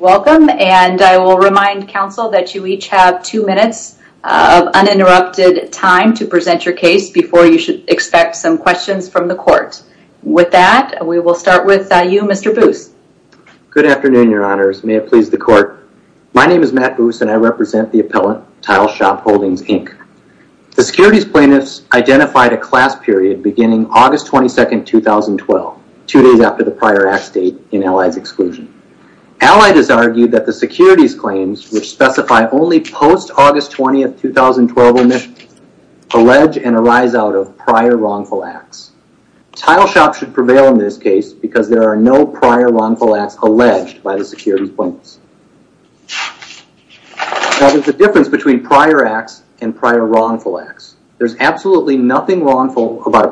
Welcome, and I will remind counsel that you each have two minutes of uninterrupted time to present your case before you should expect some questions from the court. With that, we will start with you, Mr. Boos. Good afternoon, your honors. May it please the court. My name is Matt Boos, and I represent the appellant, Tile Shop Holdings, Inc. The securities plaintiffs identified a class period beginning August 22, 2012, two days after the prior act date in Allied's exclusion. Allied has argued that the securities claims, which specify only post-August 20, 2012 omissions, allege and arise out of prior wrongful acts. Tile Shop should prevail in this case because there are no prior wrongful acts alleged by the securities plaintiffs. Now, there's a difference between prior acts and prior wrongful acts. There's absolutely nothing wrongful about a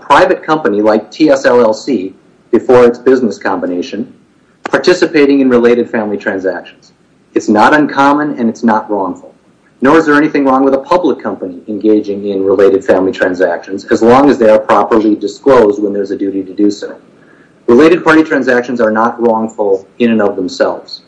private company like TSLLC, before its business combination, participating in related family transactions. It's not uncommon, and it's not wrongful. Nor is there anything wrong with a public company engaging in related family transactions, as long as they are properly disclosed when there's a duty to do so. Related party transactions are not wrongful in and of themselves.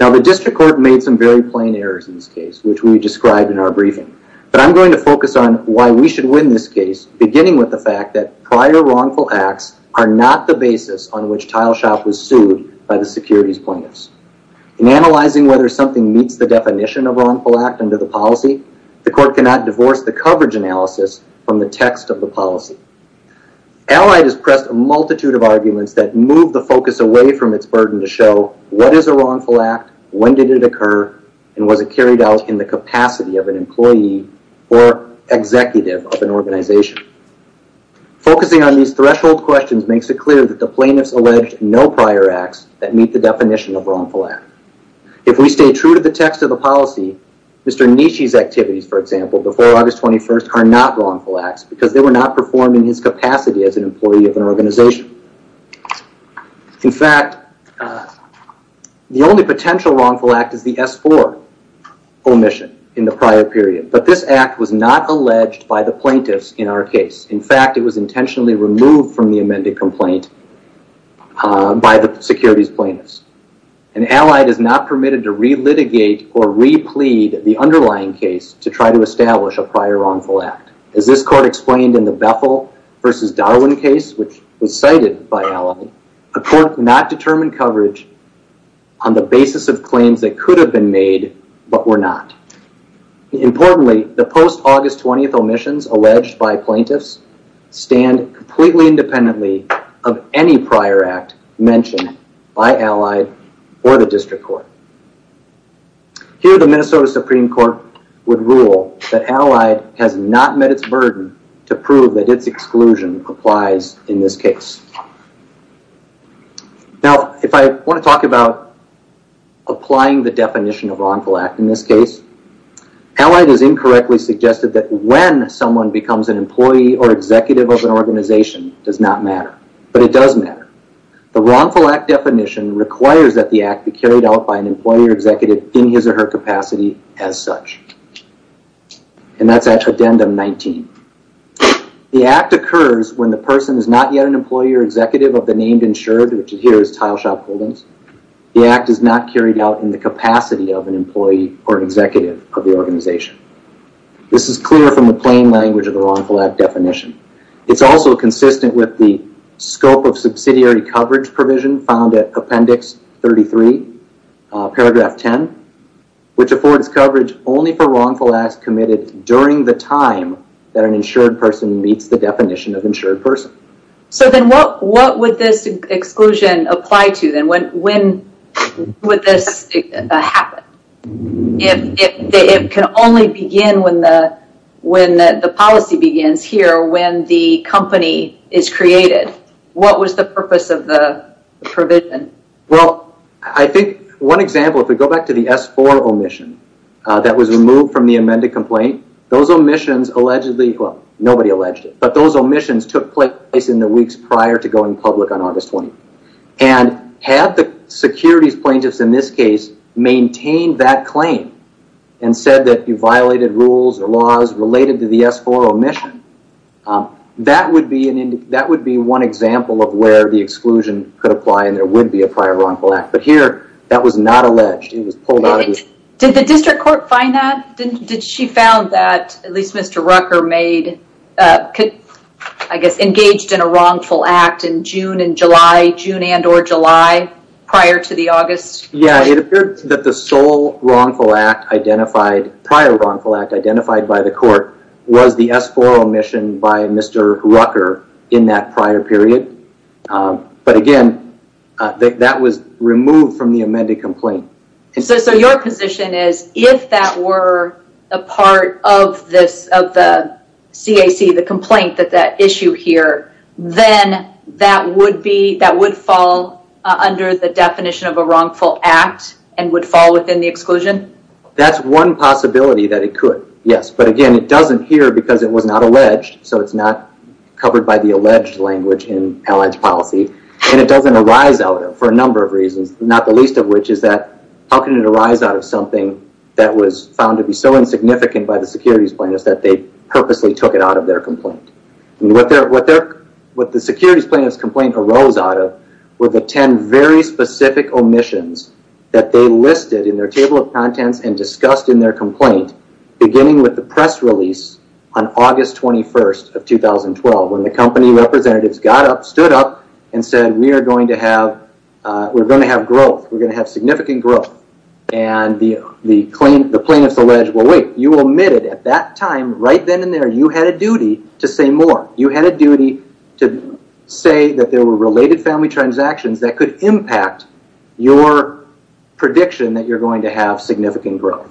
Now, the district court made some very plain errors in which we described in our briefing. But I'm going to focus on why we should win this case, beginning with the fact that prior wrongful acts are not the basis on which Tile Shop was sued by the securities plaintiffs. In analyzing whether something meets the definition of wrongful act under the policy, the court cannot divorce the coverage analysis from the text of the policy. Allied has pressed a multitude of arguments that move the focus away from its burden to show what is a wrongful act, when did it occur, and was it carried out in the capacity of an employee or executive of an organization. Focusing on these threshold questions makes it clear that the plaintiffs alleged no prior acts that meet the definition of wrongful act. If we stay true to the text of the policy, Mr. Nishi's activities, for example, before August 21st are not wrongful acts because they were not performed in his capacity as an employee of an organization. In fact, the only potential wrongful act is the S4 omission in the prior period. But this act was not alleged by the plaintiffs in our case. In fact, it was intentionally removed from the amended complaint by the securities plaintiffs. And Allied is not permitted to re-litigate or re-plead the underlying case to try to establish a prior wrongful act. As this court explained in the Bethel versus Darwin case, which was cited by Allied, the court could not determine coverage on the basis of claims that could have been made but were not. Importantly, the post-August 20th omissions alleged by plaintiffs stand completely independently of any prior act mentioned by Allied or the district court. Here the Minnesota Supreme Court would rule that Allied has not met its to prove that its exclusion applies in this case. Now, if I want to talk about applying the definition of wrongful act in this case, Allied has incorrectly suggested that when someone becomes an employee or executive of an organization does not matter. But it does matter. The wrongful act definition requires that the act be carried out by an employee or executive in his or her capacity as such. And that's addendum 19. The act occurs when the person is not yet an employee or executive of the named insured, which here is Tile Shop Holdings. The act is not carried out in the capacity of an employee or executive of the organization. This is clear from the plain language of the wrongful act definition. It's also consistent with the scope of subsidiary coverage provision found at appendix 33, paragraph 10, which affords coverage only for wrongful acts committed during the time that an insured person meets the definition of insured person. So then what would this exclusion apply to? When would this happen? If it can only begin when the policy begins here, when the company is created, what was the purpose of the provision? Well, I think one example, if we go back to the S4 omission that was removed from the amended complaint, those omissions allegedly, well, nobody alleged it, but those omissions took place in the weeks prior to going public on August 20. And had the securities plaintiffs in this case maintained that claim and said that you violated rules or laws related to the S4 omission, that would be one example of where the exclusion could apply and there would be a prior wrongful act. But here, that was not alleged. It was pulled out. Did the district court find that? Did she found that at least Mr. Rucker made, could, I guess, engaged in a wrongful act in June and July, June and or July prior to the August? Yeah, it appeared that the sole wrongful act identified, prior wrongful act identified by the court was the S4 omission by Mr. Rucker in that prior period. But again, that was removed from the amended complaint. So your position is if that were a part of this, of the CAC, the complaint that that issue here, then that would be, that would fall under the definition of a wrongful act and would fall within the exclusion? That's one possibility that it could. Yes. But again, it doesn't here because it was not alleged. So it's not covered by the alleged language in which is that, how can it arise out of something that was found to be so insignificant by the securities plaintiffs that they purposely took it out of their complaint? What the securities plaintiff's complaint arose out of were the 10 very specific omissions that they listed in their table of contents and discussed in their complaint, beginning with the press release on August 21st of 2012, when the company representatives got up, stood up and said, we are going to have, we're going to have growth. We're going to have significant growth. And the plaintiff's alleged, well, wait, you omitted at that time, right then and there, you had a duty to say more. You had a duty to say that there were related family transactions that could impact your prediction that you're going to have significant growth.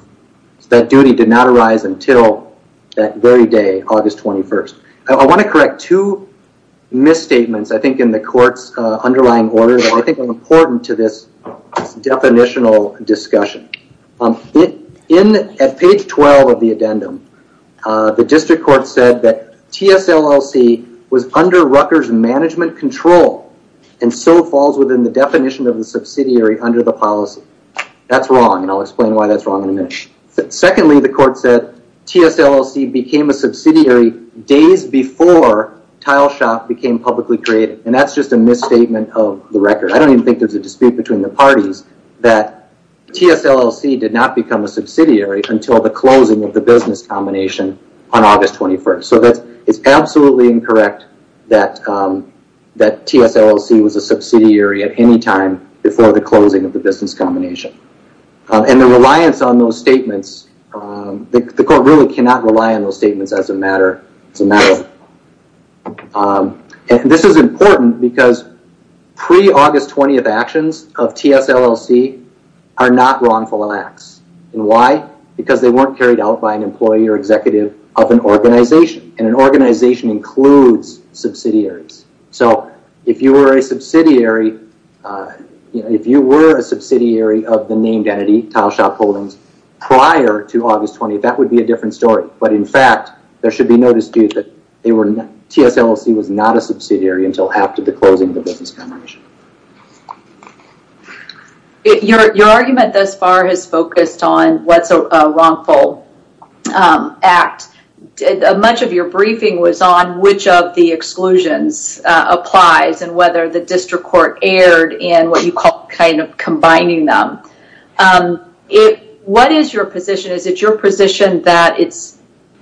That duty did not arise until that very day, August 21st. I want to correct two misstatements, I think in the court's underlying order that I think are important to this definitional discussion. At page 12 of the addendum, the district court said that TSLLC was under Rutgers management control and so falls within the definition of the subsidiary under the policy. That's wrong and I'll explain why that's wrong in a minute. Secondly, the court said TSLLC became a subsidiary days before Tile Shop became publicly created. And that's just a misstatement of the record. I don't even think there's a dispute between the parties that TSLLC did not become a subsidiary until the closing of the business combination on August 21st. So it's absolutely incorrect that TSLLC was a subsidiary at any time before the closing of the business combination. And the reliance on those statements, the court really cannot rely on those statements as a matter. And this is important because pre-August 20th actions of TSLLC are not wrongful acts. And why? Because they weren't carried out by an employee or executive of an organization. And an organization includes subsidiaries. So if you were a subsidiary of the named entity, Tile Shop Holdings, prior to August 20th, that would be a different story. But in fact, there should be no dispute that TSLLC was not a subsidiary until after the closing of the business combination. Your argument thus far has focused on what's a wrongful act. Much of your briefing was on which of the exclusions applies and whether the district court erred in what you call kind of combining them. What is your position? Is it your position that it's,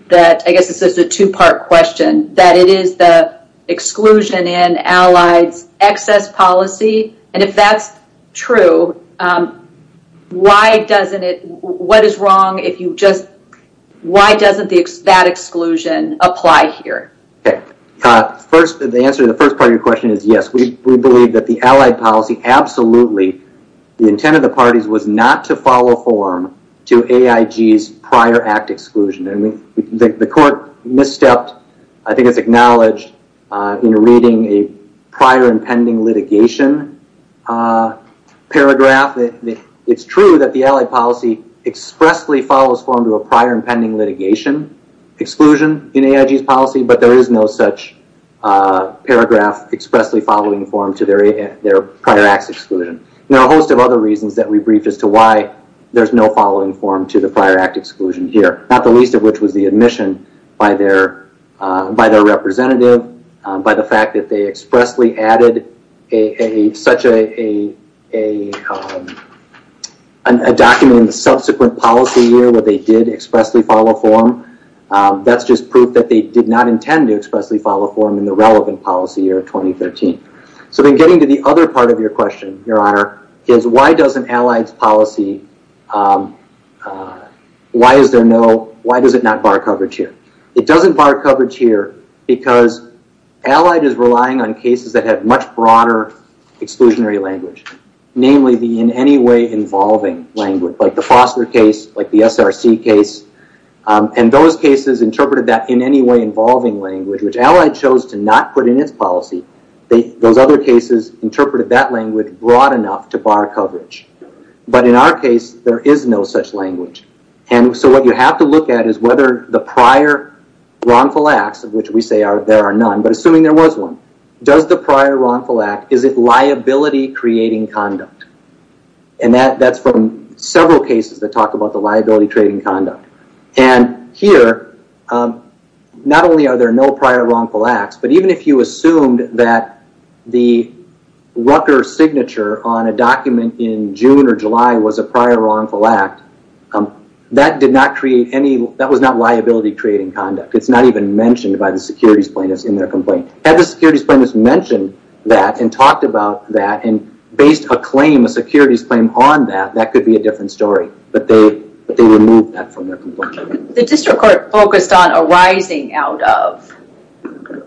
that I guess this is a two-part question, that it is the exclusion in Allied's excess policy? And if that's true, why doesn't it, what is wrong if you just, why doesn't that exclusion apply here? Okay. The answer to the first part of your question is yes. We believe that the Allied policy absolutely, the intent of the parties was not to follow form to AIG's prior act exclusion. And the court misstepped, I think it's acknowledged in reading a prior and pending litigation paragraph. It's true that the Allied policy expressly follows form to a prior and pending litigation exclusion in AIG's policy, but there is no such paragraph expressly following form to their prior acts exclusion. There are a host of other reasons that we briefed as to why there's no following form to the prior act exclusion here. Not the least of which was the admission by their representative, by the fact that they expressly added such a document in the subsequent policy year where they did expressly follow form. That's just proof that they did not intend to expressly follow form in the relevant policy year of 2013. So then getting to the other part of your question, your honor, is why does an Allied policy, why is there no, why does it not bar coverage here? It doesn't bar coverage here because Allied is relying on cases that have much broader exclusionary language, namely the in any way involving language, like the Foster case, like the SRC case. And those cases interpreted that in any way involving language, which Allied chose to not put in its policy. Those other cases interpreted that language broad enough to bar coverage. But in our case, there is no such language. And so what you have to look at is the prior wrongful acts, of which we say there are none, but assuming there was one, does the prior wrongful act, is it liability creating conduct? And that's from several cases that talk about the liability creating conduct. And here, not only are there no prior wrongful acts, but even if you assumed that the Rucker signature on a document in June or July was a liability creating conduct, it's not even mentioned by the securities plaintiffs in their complaint. Had the securities plaintiffs mentioned that and talked about that and based a claim, a securities claim on that, that could be a different story. But they removed that from their complaint. The district court focused on arising out of,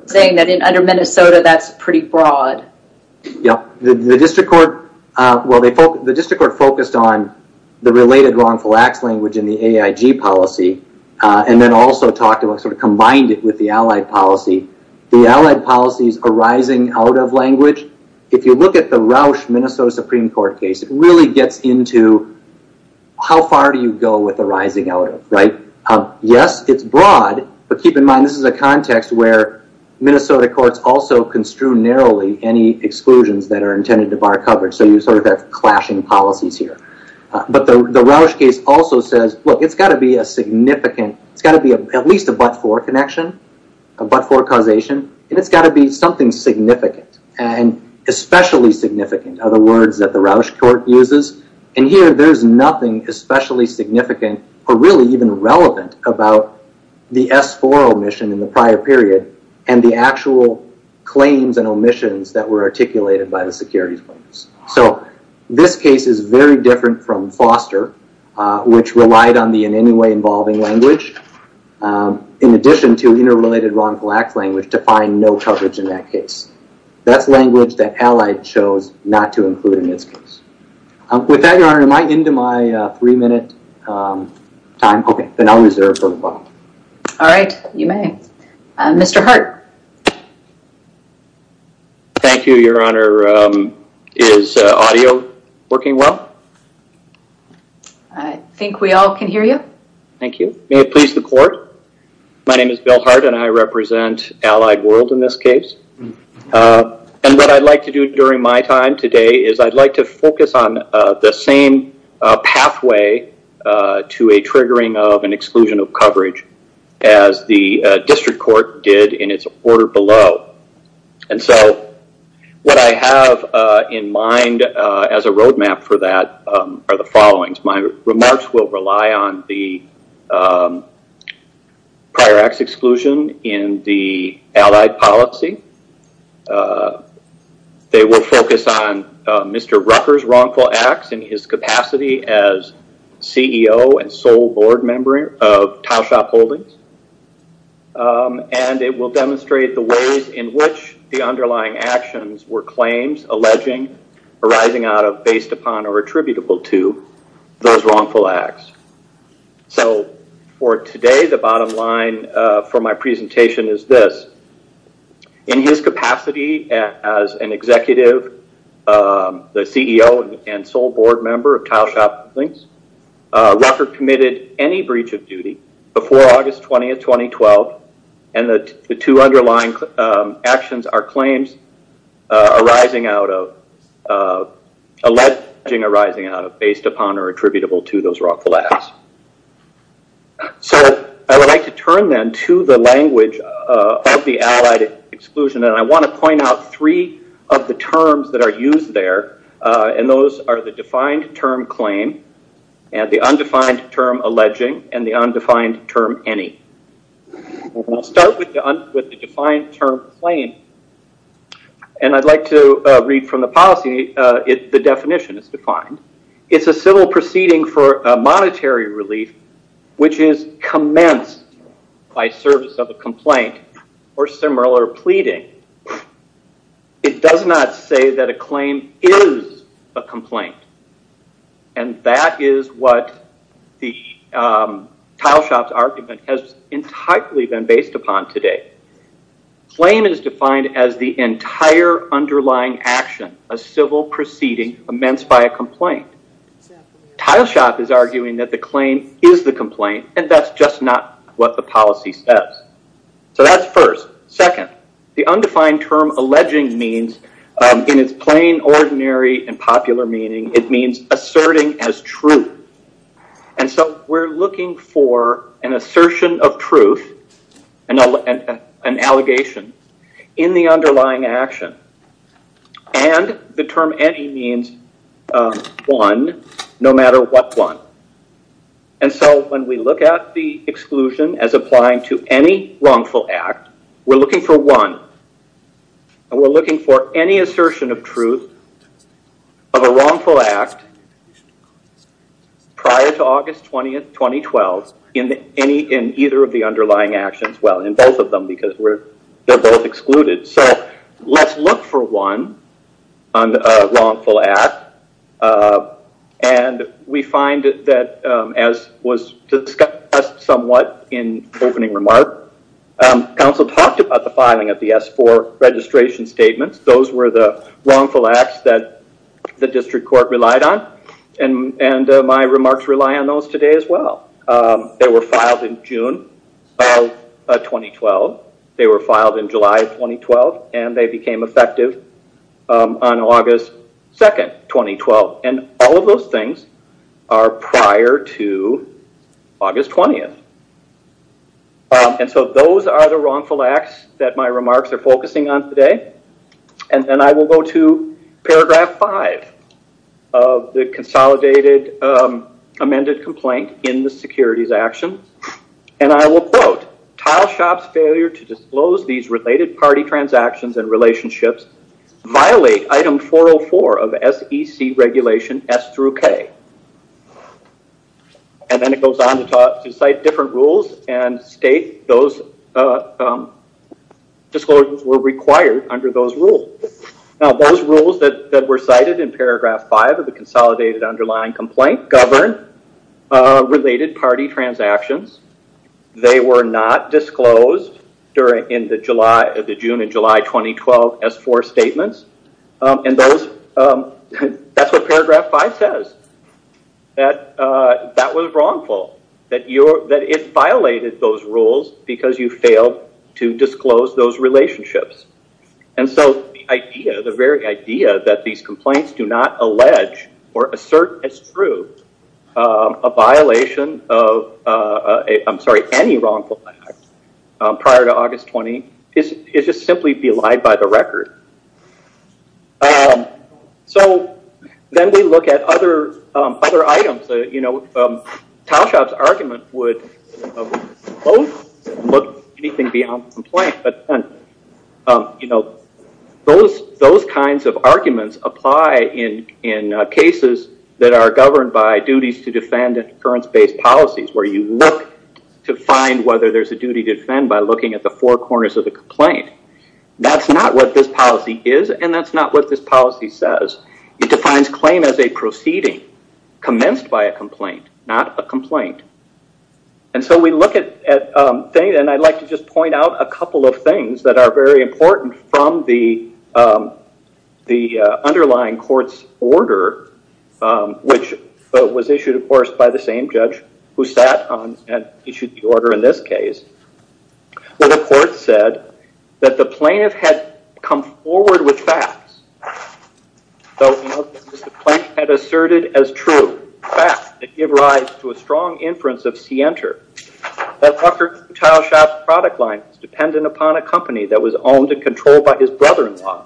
saying that under Minnesota, that's pretty broad. Yeah. The district court, well, the district court focused on the related wrongful acts language in the AIG policy, and then also combined it with the Allied policy. The Allied policies arising out of language, if you look at the Roush Minnesota Supreme Court case, it really gets into how far do you go with arising out of, right? Yes, it's broad, but keep in mind, this is a context where Minnesota courts also construe narrowly any exclusions that are intended to bar coverage. So you sort of have clashing policies here. But the Roush case also says, look, it's got to be a significant, it's got to be at least a but-for connection, a but-for causation, and it's got to be something significant and especially significant are the words that the Roush court uses. And here, there's nothing especially significant or really even relevant about the S4 omission in the prior period and the actual claims and from Foster, which relied on the in any way involving language, in addition to interrelated wrongful acts language to find no coverage in that case. That's language that Allied chose not to include in its case. With that, Your Honor, am I into my three minute time? Okay, then I'll reserve for a while. All right, you may. Mr. Hart. Thank you, Your Honor. Is audio working well? I think we all can hear you. Thank you. May it please the court. My name is Bill Hart and I represent Allied World in this case. And what I'd like to do during my time today is I'd like to focus on the same pathway to a triggering of exclusion of coverage as the district court did in its order below. And so, what I have in mind as a roadmap for that are the followings. My remarks will rely on the prior acts exclusion in the Allied policy. They will focus on Mr. Rucker's wrongful acts and his capacity as CEO and sole board member of Tileshop Holdings. And it will demonstrate the ways in which the underlying actions were claims alleging arising out of based upon or attributable to those wrongful acts. So, for today, the bottom line for my presentation is this. In his capacity as an attorney, Rucker committed any breach of duty before August 20, 2012, and the two underlying actions are claims alleging arising out of based upon or attributable to those wrongful acts. So, I would like to turn then to the language of the Allied exclusion. And I want to point out three of the terms that are used there. And those are the defined term claim, and the undefined term alleging, and the undefined term any. I'll start with the defined term claim. And I'd like to read from the policy, the definition is defined. It's a civil proceeding for a monetary relief which is commenced by service of a complaint or similar pleading. It does not say that a claim is a complaint. And that is what the Tileshop's argument has entirely been based upon today. Claim is defined as the entire underlying action, a civil proceeding commenced by a complaint. Tileshop is arguing that the claim is the complaint, and that's just not what the policy says. So, that's first. Second, the undefined term alleging means, in its plain, ordinary, and popular meaning, it means asserting as true. And so, we're looking for an assertion of truth, an allegation, in the underlying action. And the term any means one, no matter what one. And so, when we look at the exclusion as applying to any wrongful act, we're looking for one. And we're looking for any assertion of truth of a wrongful act prior to August 20th, 2012, in any, in either of the underlying actions, well, in both of them, because we're, they're both excluded. So, let's look for one on a wrongful act. And we find that, as was discussed somewhat in opening remark, counsel talked about the filing of the S4 registration statements. Those were the wrongful acts that the district court relied on. And my remarks rely on those in July of 2012, and they became effective on August 2nd, 2012. And all of those things are prior to August 20th. And so, those are the wrongful acts that my remarks are focusing on today. And then I will go to paragraph 5 of the consolidated amended complaint in the securities action. And I will quote, Tileshop's failure to disclose these related party transactions and relationships violate item 404 of SEC regulation S through K. And then it goes on to cite different rules and state those disclosures were required under those rules. Now, those rules that were cited in paragraph 5 of the consolidated underlying complaint govern related party transactions. They were not disclosed during in the July, the June and July 2012 S4 statements. And those, that's what paragraph 5 says. That that was wrongful. That it violated those rules because you failed to disclose those relationships. And so, the idea, the very idea that these I'm sorry, any wrongful act prior to August 20th is just simply belied by the record. So, then we look at other items. You know, Tileshop's argument would look anything beyond complaint. But, you know, those kinds of arguments apply in cases that are governed by duties to defend in occurrence based policies where you look to find whether there's a duty to defend by looking at the four corners of the complaint. That's not what this policy is and that's not what this policy says. It defines claim as a proceeding commenced by a complaint, not a complaint. And so, we look at data and I'd like to just point out a couple of that are very important from the underlying court's order which was issued, of course, by the same judge who sat and issued the order in this case where the court said that the plaintiff had come forward with facts. So, the plaintiff had asserted as true facts that give rise to a was owned and controlled by his brother-in-law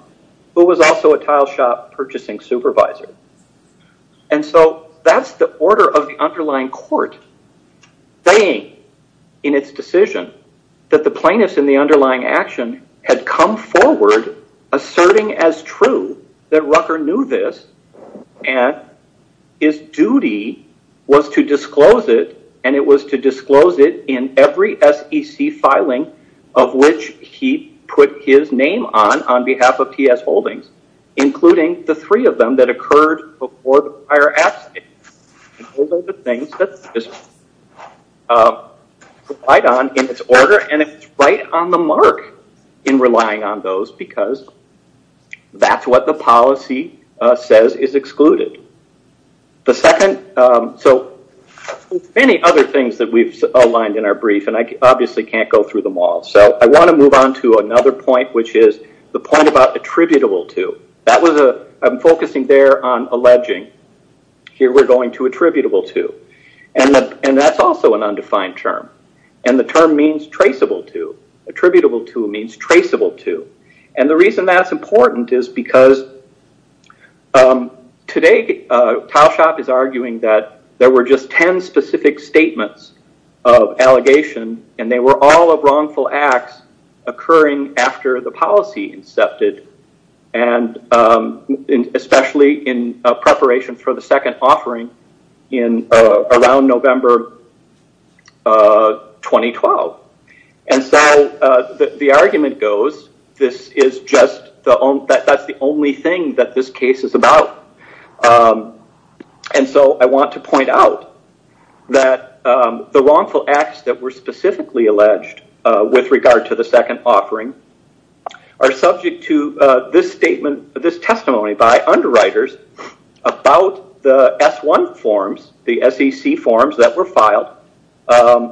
who was also a Tileshop purchasing supervisor. And so, that's the order of the underlying court saying in its decision that the plaintiff in the underlying action had come forward asserting as true that Rucker knew this and his duty was to disclose it and it was to disclose it in every SEC filing of which he put his name on, on behalf of T.S. Holdings, including the three of them that occurred before the prior absence. Those are the things that this is right on in its order and it's right on the mark in relying on those because that's what the policy says is excluded. The second, so many other things that we've outlined in our brief and I obviously can't go through them all. So, I want to move on to another point which is the point about attributable to. That was a, I'm focusing there on alleging. Here we're going to attributable to and that's also an undefined term and the term means traceable to. Attributable to means traceable to and the reason that's important is because today Towshop is arguing that there were just ten specific statements of allegation and they were all of wrongful acts occurring after the policy incepted and especially in preparation for the second offering in around November 2012. And so, the argument goes this is just, that's the only thing that this case is about. And so, I want to point out that the wrongful acts that were specifically alleged with regard to the second offering are subject to this statement, this testimony by underwriters about the S1 forms, the SEC forms that were filed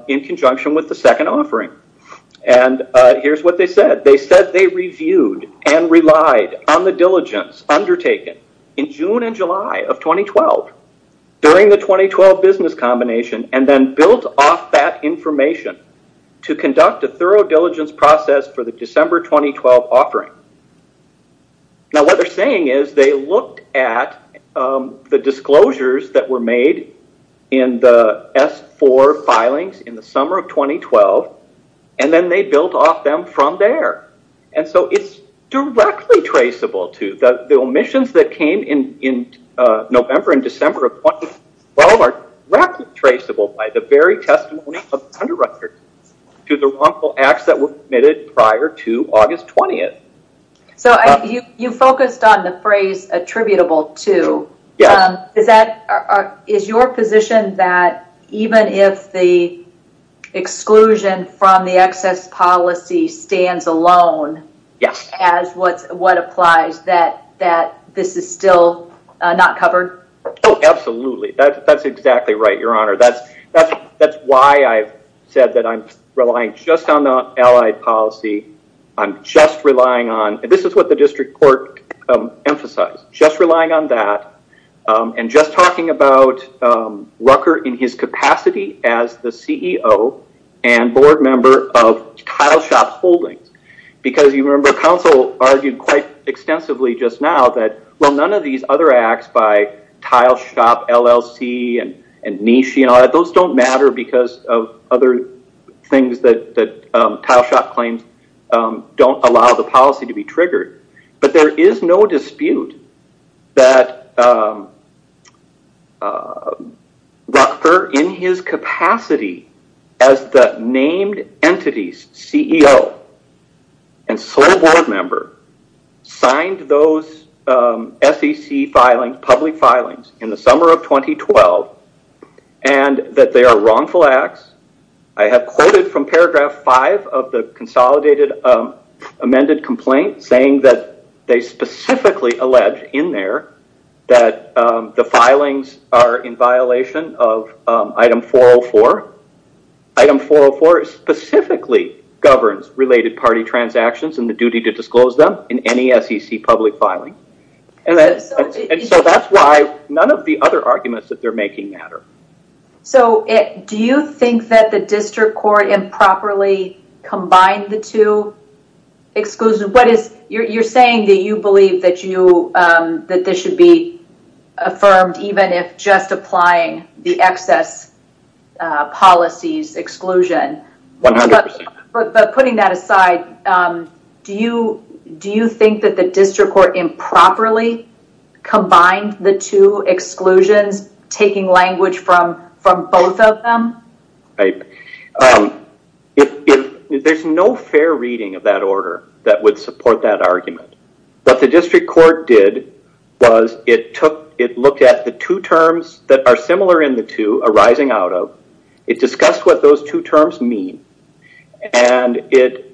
in conjunction with the second offering. And here's what they said. They said they reviewed and relied on the diligence undertaken in June and July of 2012 during the 2012 business combination and then built off that information to conduct a thorough diligence process for the December 2012 offering. Now, what they're saying is they looked at the disclosures that were made in the S4 filings in the summer of 2012 and then they built off them from there. And so, it's directly traceable to the omissions that came in November and December of 2012 are directly traceable by the very testimony of the underwriters to the wrongful acts that were committed prior to August 20th. So, you focused on the phrase attributable to. Is your position that even if the exclusion from the excess policy stands alone as what applies that this is still not covered? Absolutely. That's exactly right, Your Honor. That's why I've said that I'm relying just on and this is what the district court emphasized, just relying on that and just talking about Rucker in his capacity as the CEO and board member of Tile Shop Holdings. Because you remember, counsel argued quite extensively just now that, well, none of these other acts by Tile Shop LLC and Nishi and all that, those don't matter because of other things that Tile Shop claims don't allow the policy to be triggered. But there is no dispute that Rucker in his capacity as the named entity's CEO and sole board member signed those SEC public filings in the summer of 2012 and that they are wrongful acts. I have quoted from paragraph 5 of the consolidated amended complaint saying that they specifically allege in there that the filings are in violation of item 404. Item 404 specifically governs related party transactions and the duty to disclose them in any SEC public filing. And so that's why none of the other arguments that they're making matter. So do you think that the district court improperly combined the two exclusions? You're saying that you believe that this should be affirmed even if just applying the excess policies exclusion. But putting that aside, do you think that the district court improperly combined the two exclusions, taking language from both of them? There's no fair reading of that order that would support that argument. What the district court did was it looked at the two terms that are similar in the two arising out of, it discussed what those two terms mean. And it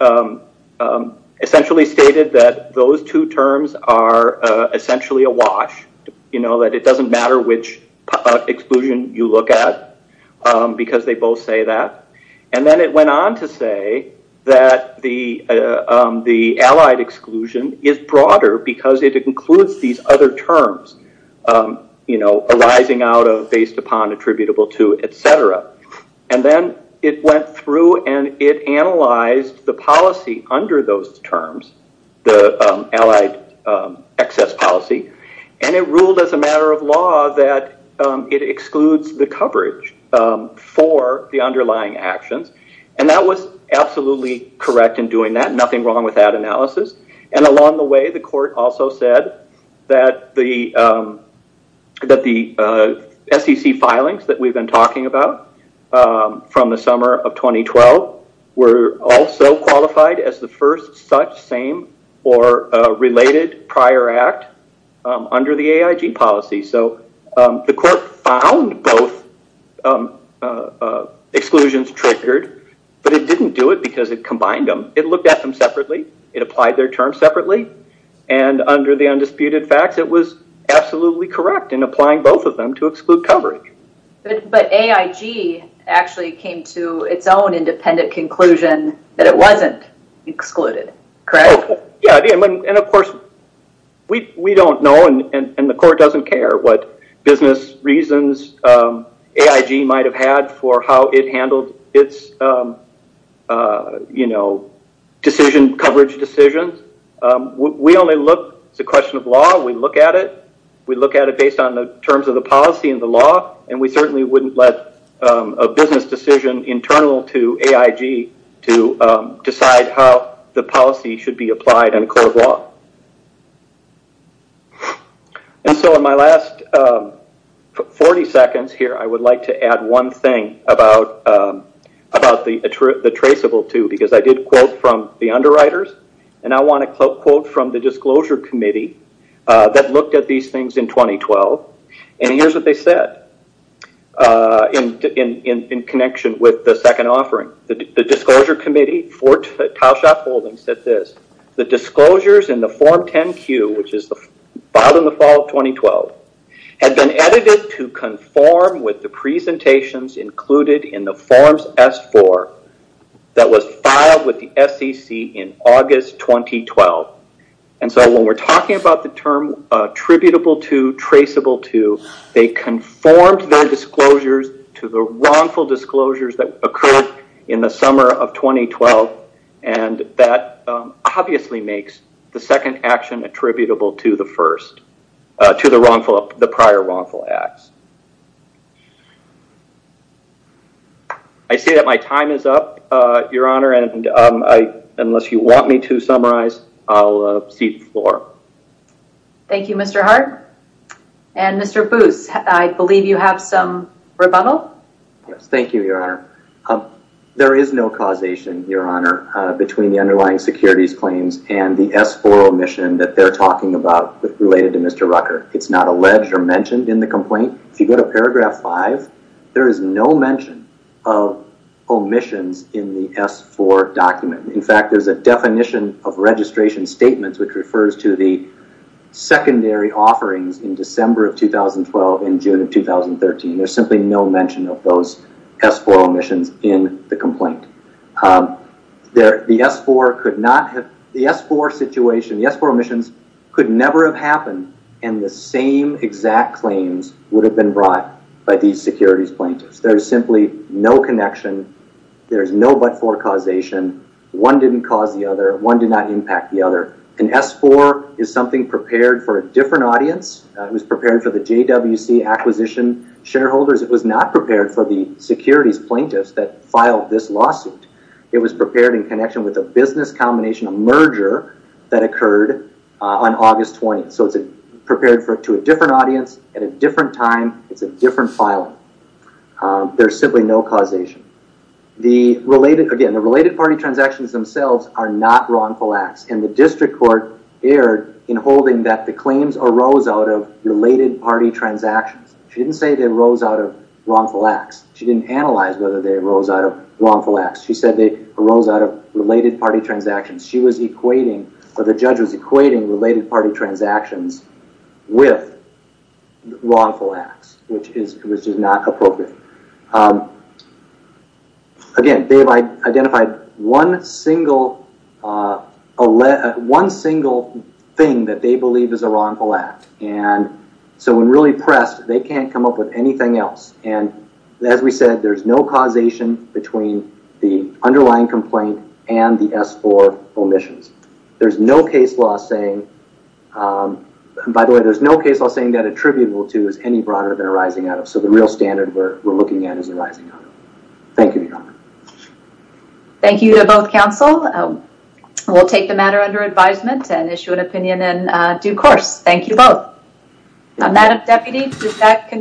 essentially stated that those two terms are essentially a wash, that it doesn't matter which exclusion you look at because they both say that. And then it went on to say that the allied exclusion is broader because it includes these other terms, arising out of, based upon, attributable to, etc. And then it went through and it analyzed the policy under those terms, the allied excess policy. And it ruled as a matter of law that it excludes the coverage for the underlying actions. And that was absolutely correct in doing that. Nothing wrong with that analysis. And along the way, the court also said that the SEC filings that we've been talking about from the summer of 2012 were also qualified as the first such same or related prior act under the AIG policy. So the court found both exclusions triggered, but it didn't do it because it combined them. It looked at them separately. It applied their terms separately. And under the undisputed facts, it was absolutely correct in applying both of them to exclude coverage. But AIG actually came to its own independent conclusion that it wasn't excluded, correct? Yeah. And of course, we don't know and the court doesn't care what business reasons AIG might have had for how it handled its decision, coverage decisions. We only look, it's a question of law, we look at it. We look at it based on the terms of the policy and the law. And we certainly wouldn't let a business decision internal to AIG to decide how the policy should be applied in a court of law. And so in my last 40 seconds here, I would like to add one thing about the traceable two, because I did quote from the underwriters, and I want to quote from the disclosure committee that looked at these things in 2012. And here's what they said in connection with the second offering. The disclosure committee for Towshop Holdings said this, the disclosures in the form 10Q, which is filed in the fall of 2012, had been edited to conform with the presentations included in the forms S4 that was filed with the SEC in August 2012. And so when we're talking about the term attributable to, traceable to, they conformed their disclosures to the wrongful disclosures that occurred in the summer of 2012, and that obviously makes the second action attributable to the first, to the prior wrongful acts. I see that my time is up, Your Honor. Thank you, Mr. Hart. And Mr. Booth, I believe you have some rebuttal. Thank you, Your Honor. There is no causation, Your Honor, between the underlying securities claims and the S4 omission that they're talking about related to Mr. Rucker. It's not alleged or mentioned in the complaint. If you go to paragraph 5, there is no mention of omissions in the S4 document. In fact, there's a definition of registration statements which refers to the secondary offerings in December of 2012 and June of 2013. There's simply no mention of those S4 omissions in the complaint. The S4 situation, the S4 omissions could never have happened, and the same exact claims would have been brought by these securities plaintiffs. There's simply no connection. There's no but-for causation. One didn't cause the other. One did not impact the other. An S4 is something prepared for a different audience. It was prepared for the JWC acquisition shareholders. It was not prepared for the securities plaintiffs that filed this lawsuit. It was prepared in connection with a business combination, a merger that occurred on August 20th. So it's prepared to a different audience at a different time. It's a different filing. There's simply no causation. Again, the related party transactions themselves are not wrongful acts, and the district court erred in holding that the claims arose out of related party transactions. She didn't say they arose out of wrongful acts. She didn't analyze whether they arose out of wrongful acts. She said they arose out of related party transactions. She was equating or the judge was equating related party transactions with wrongful acts, which is not appropriate. Again, they have identified one single thing that they believe is a wrongful act. And so when really pressed, they can't come up with anything else. And as we said, there's no and the S-4 omissions. There's no case law saying, by the way, there's no case law saying that attributable to is any broader than arising out of. So the real standard we're looking at is arising out of. Thank you, Your Honor. Thank you to both counsel. We'll take the matter under advisement and issue an opinion in due course. Thank you both. Madam Deputy, does that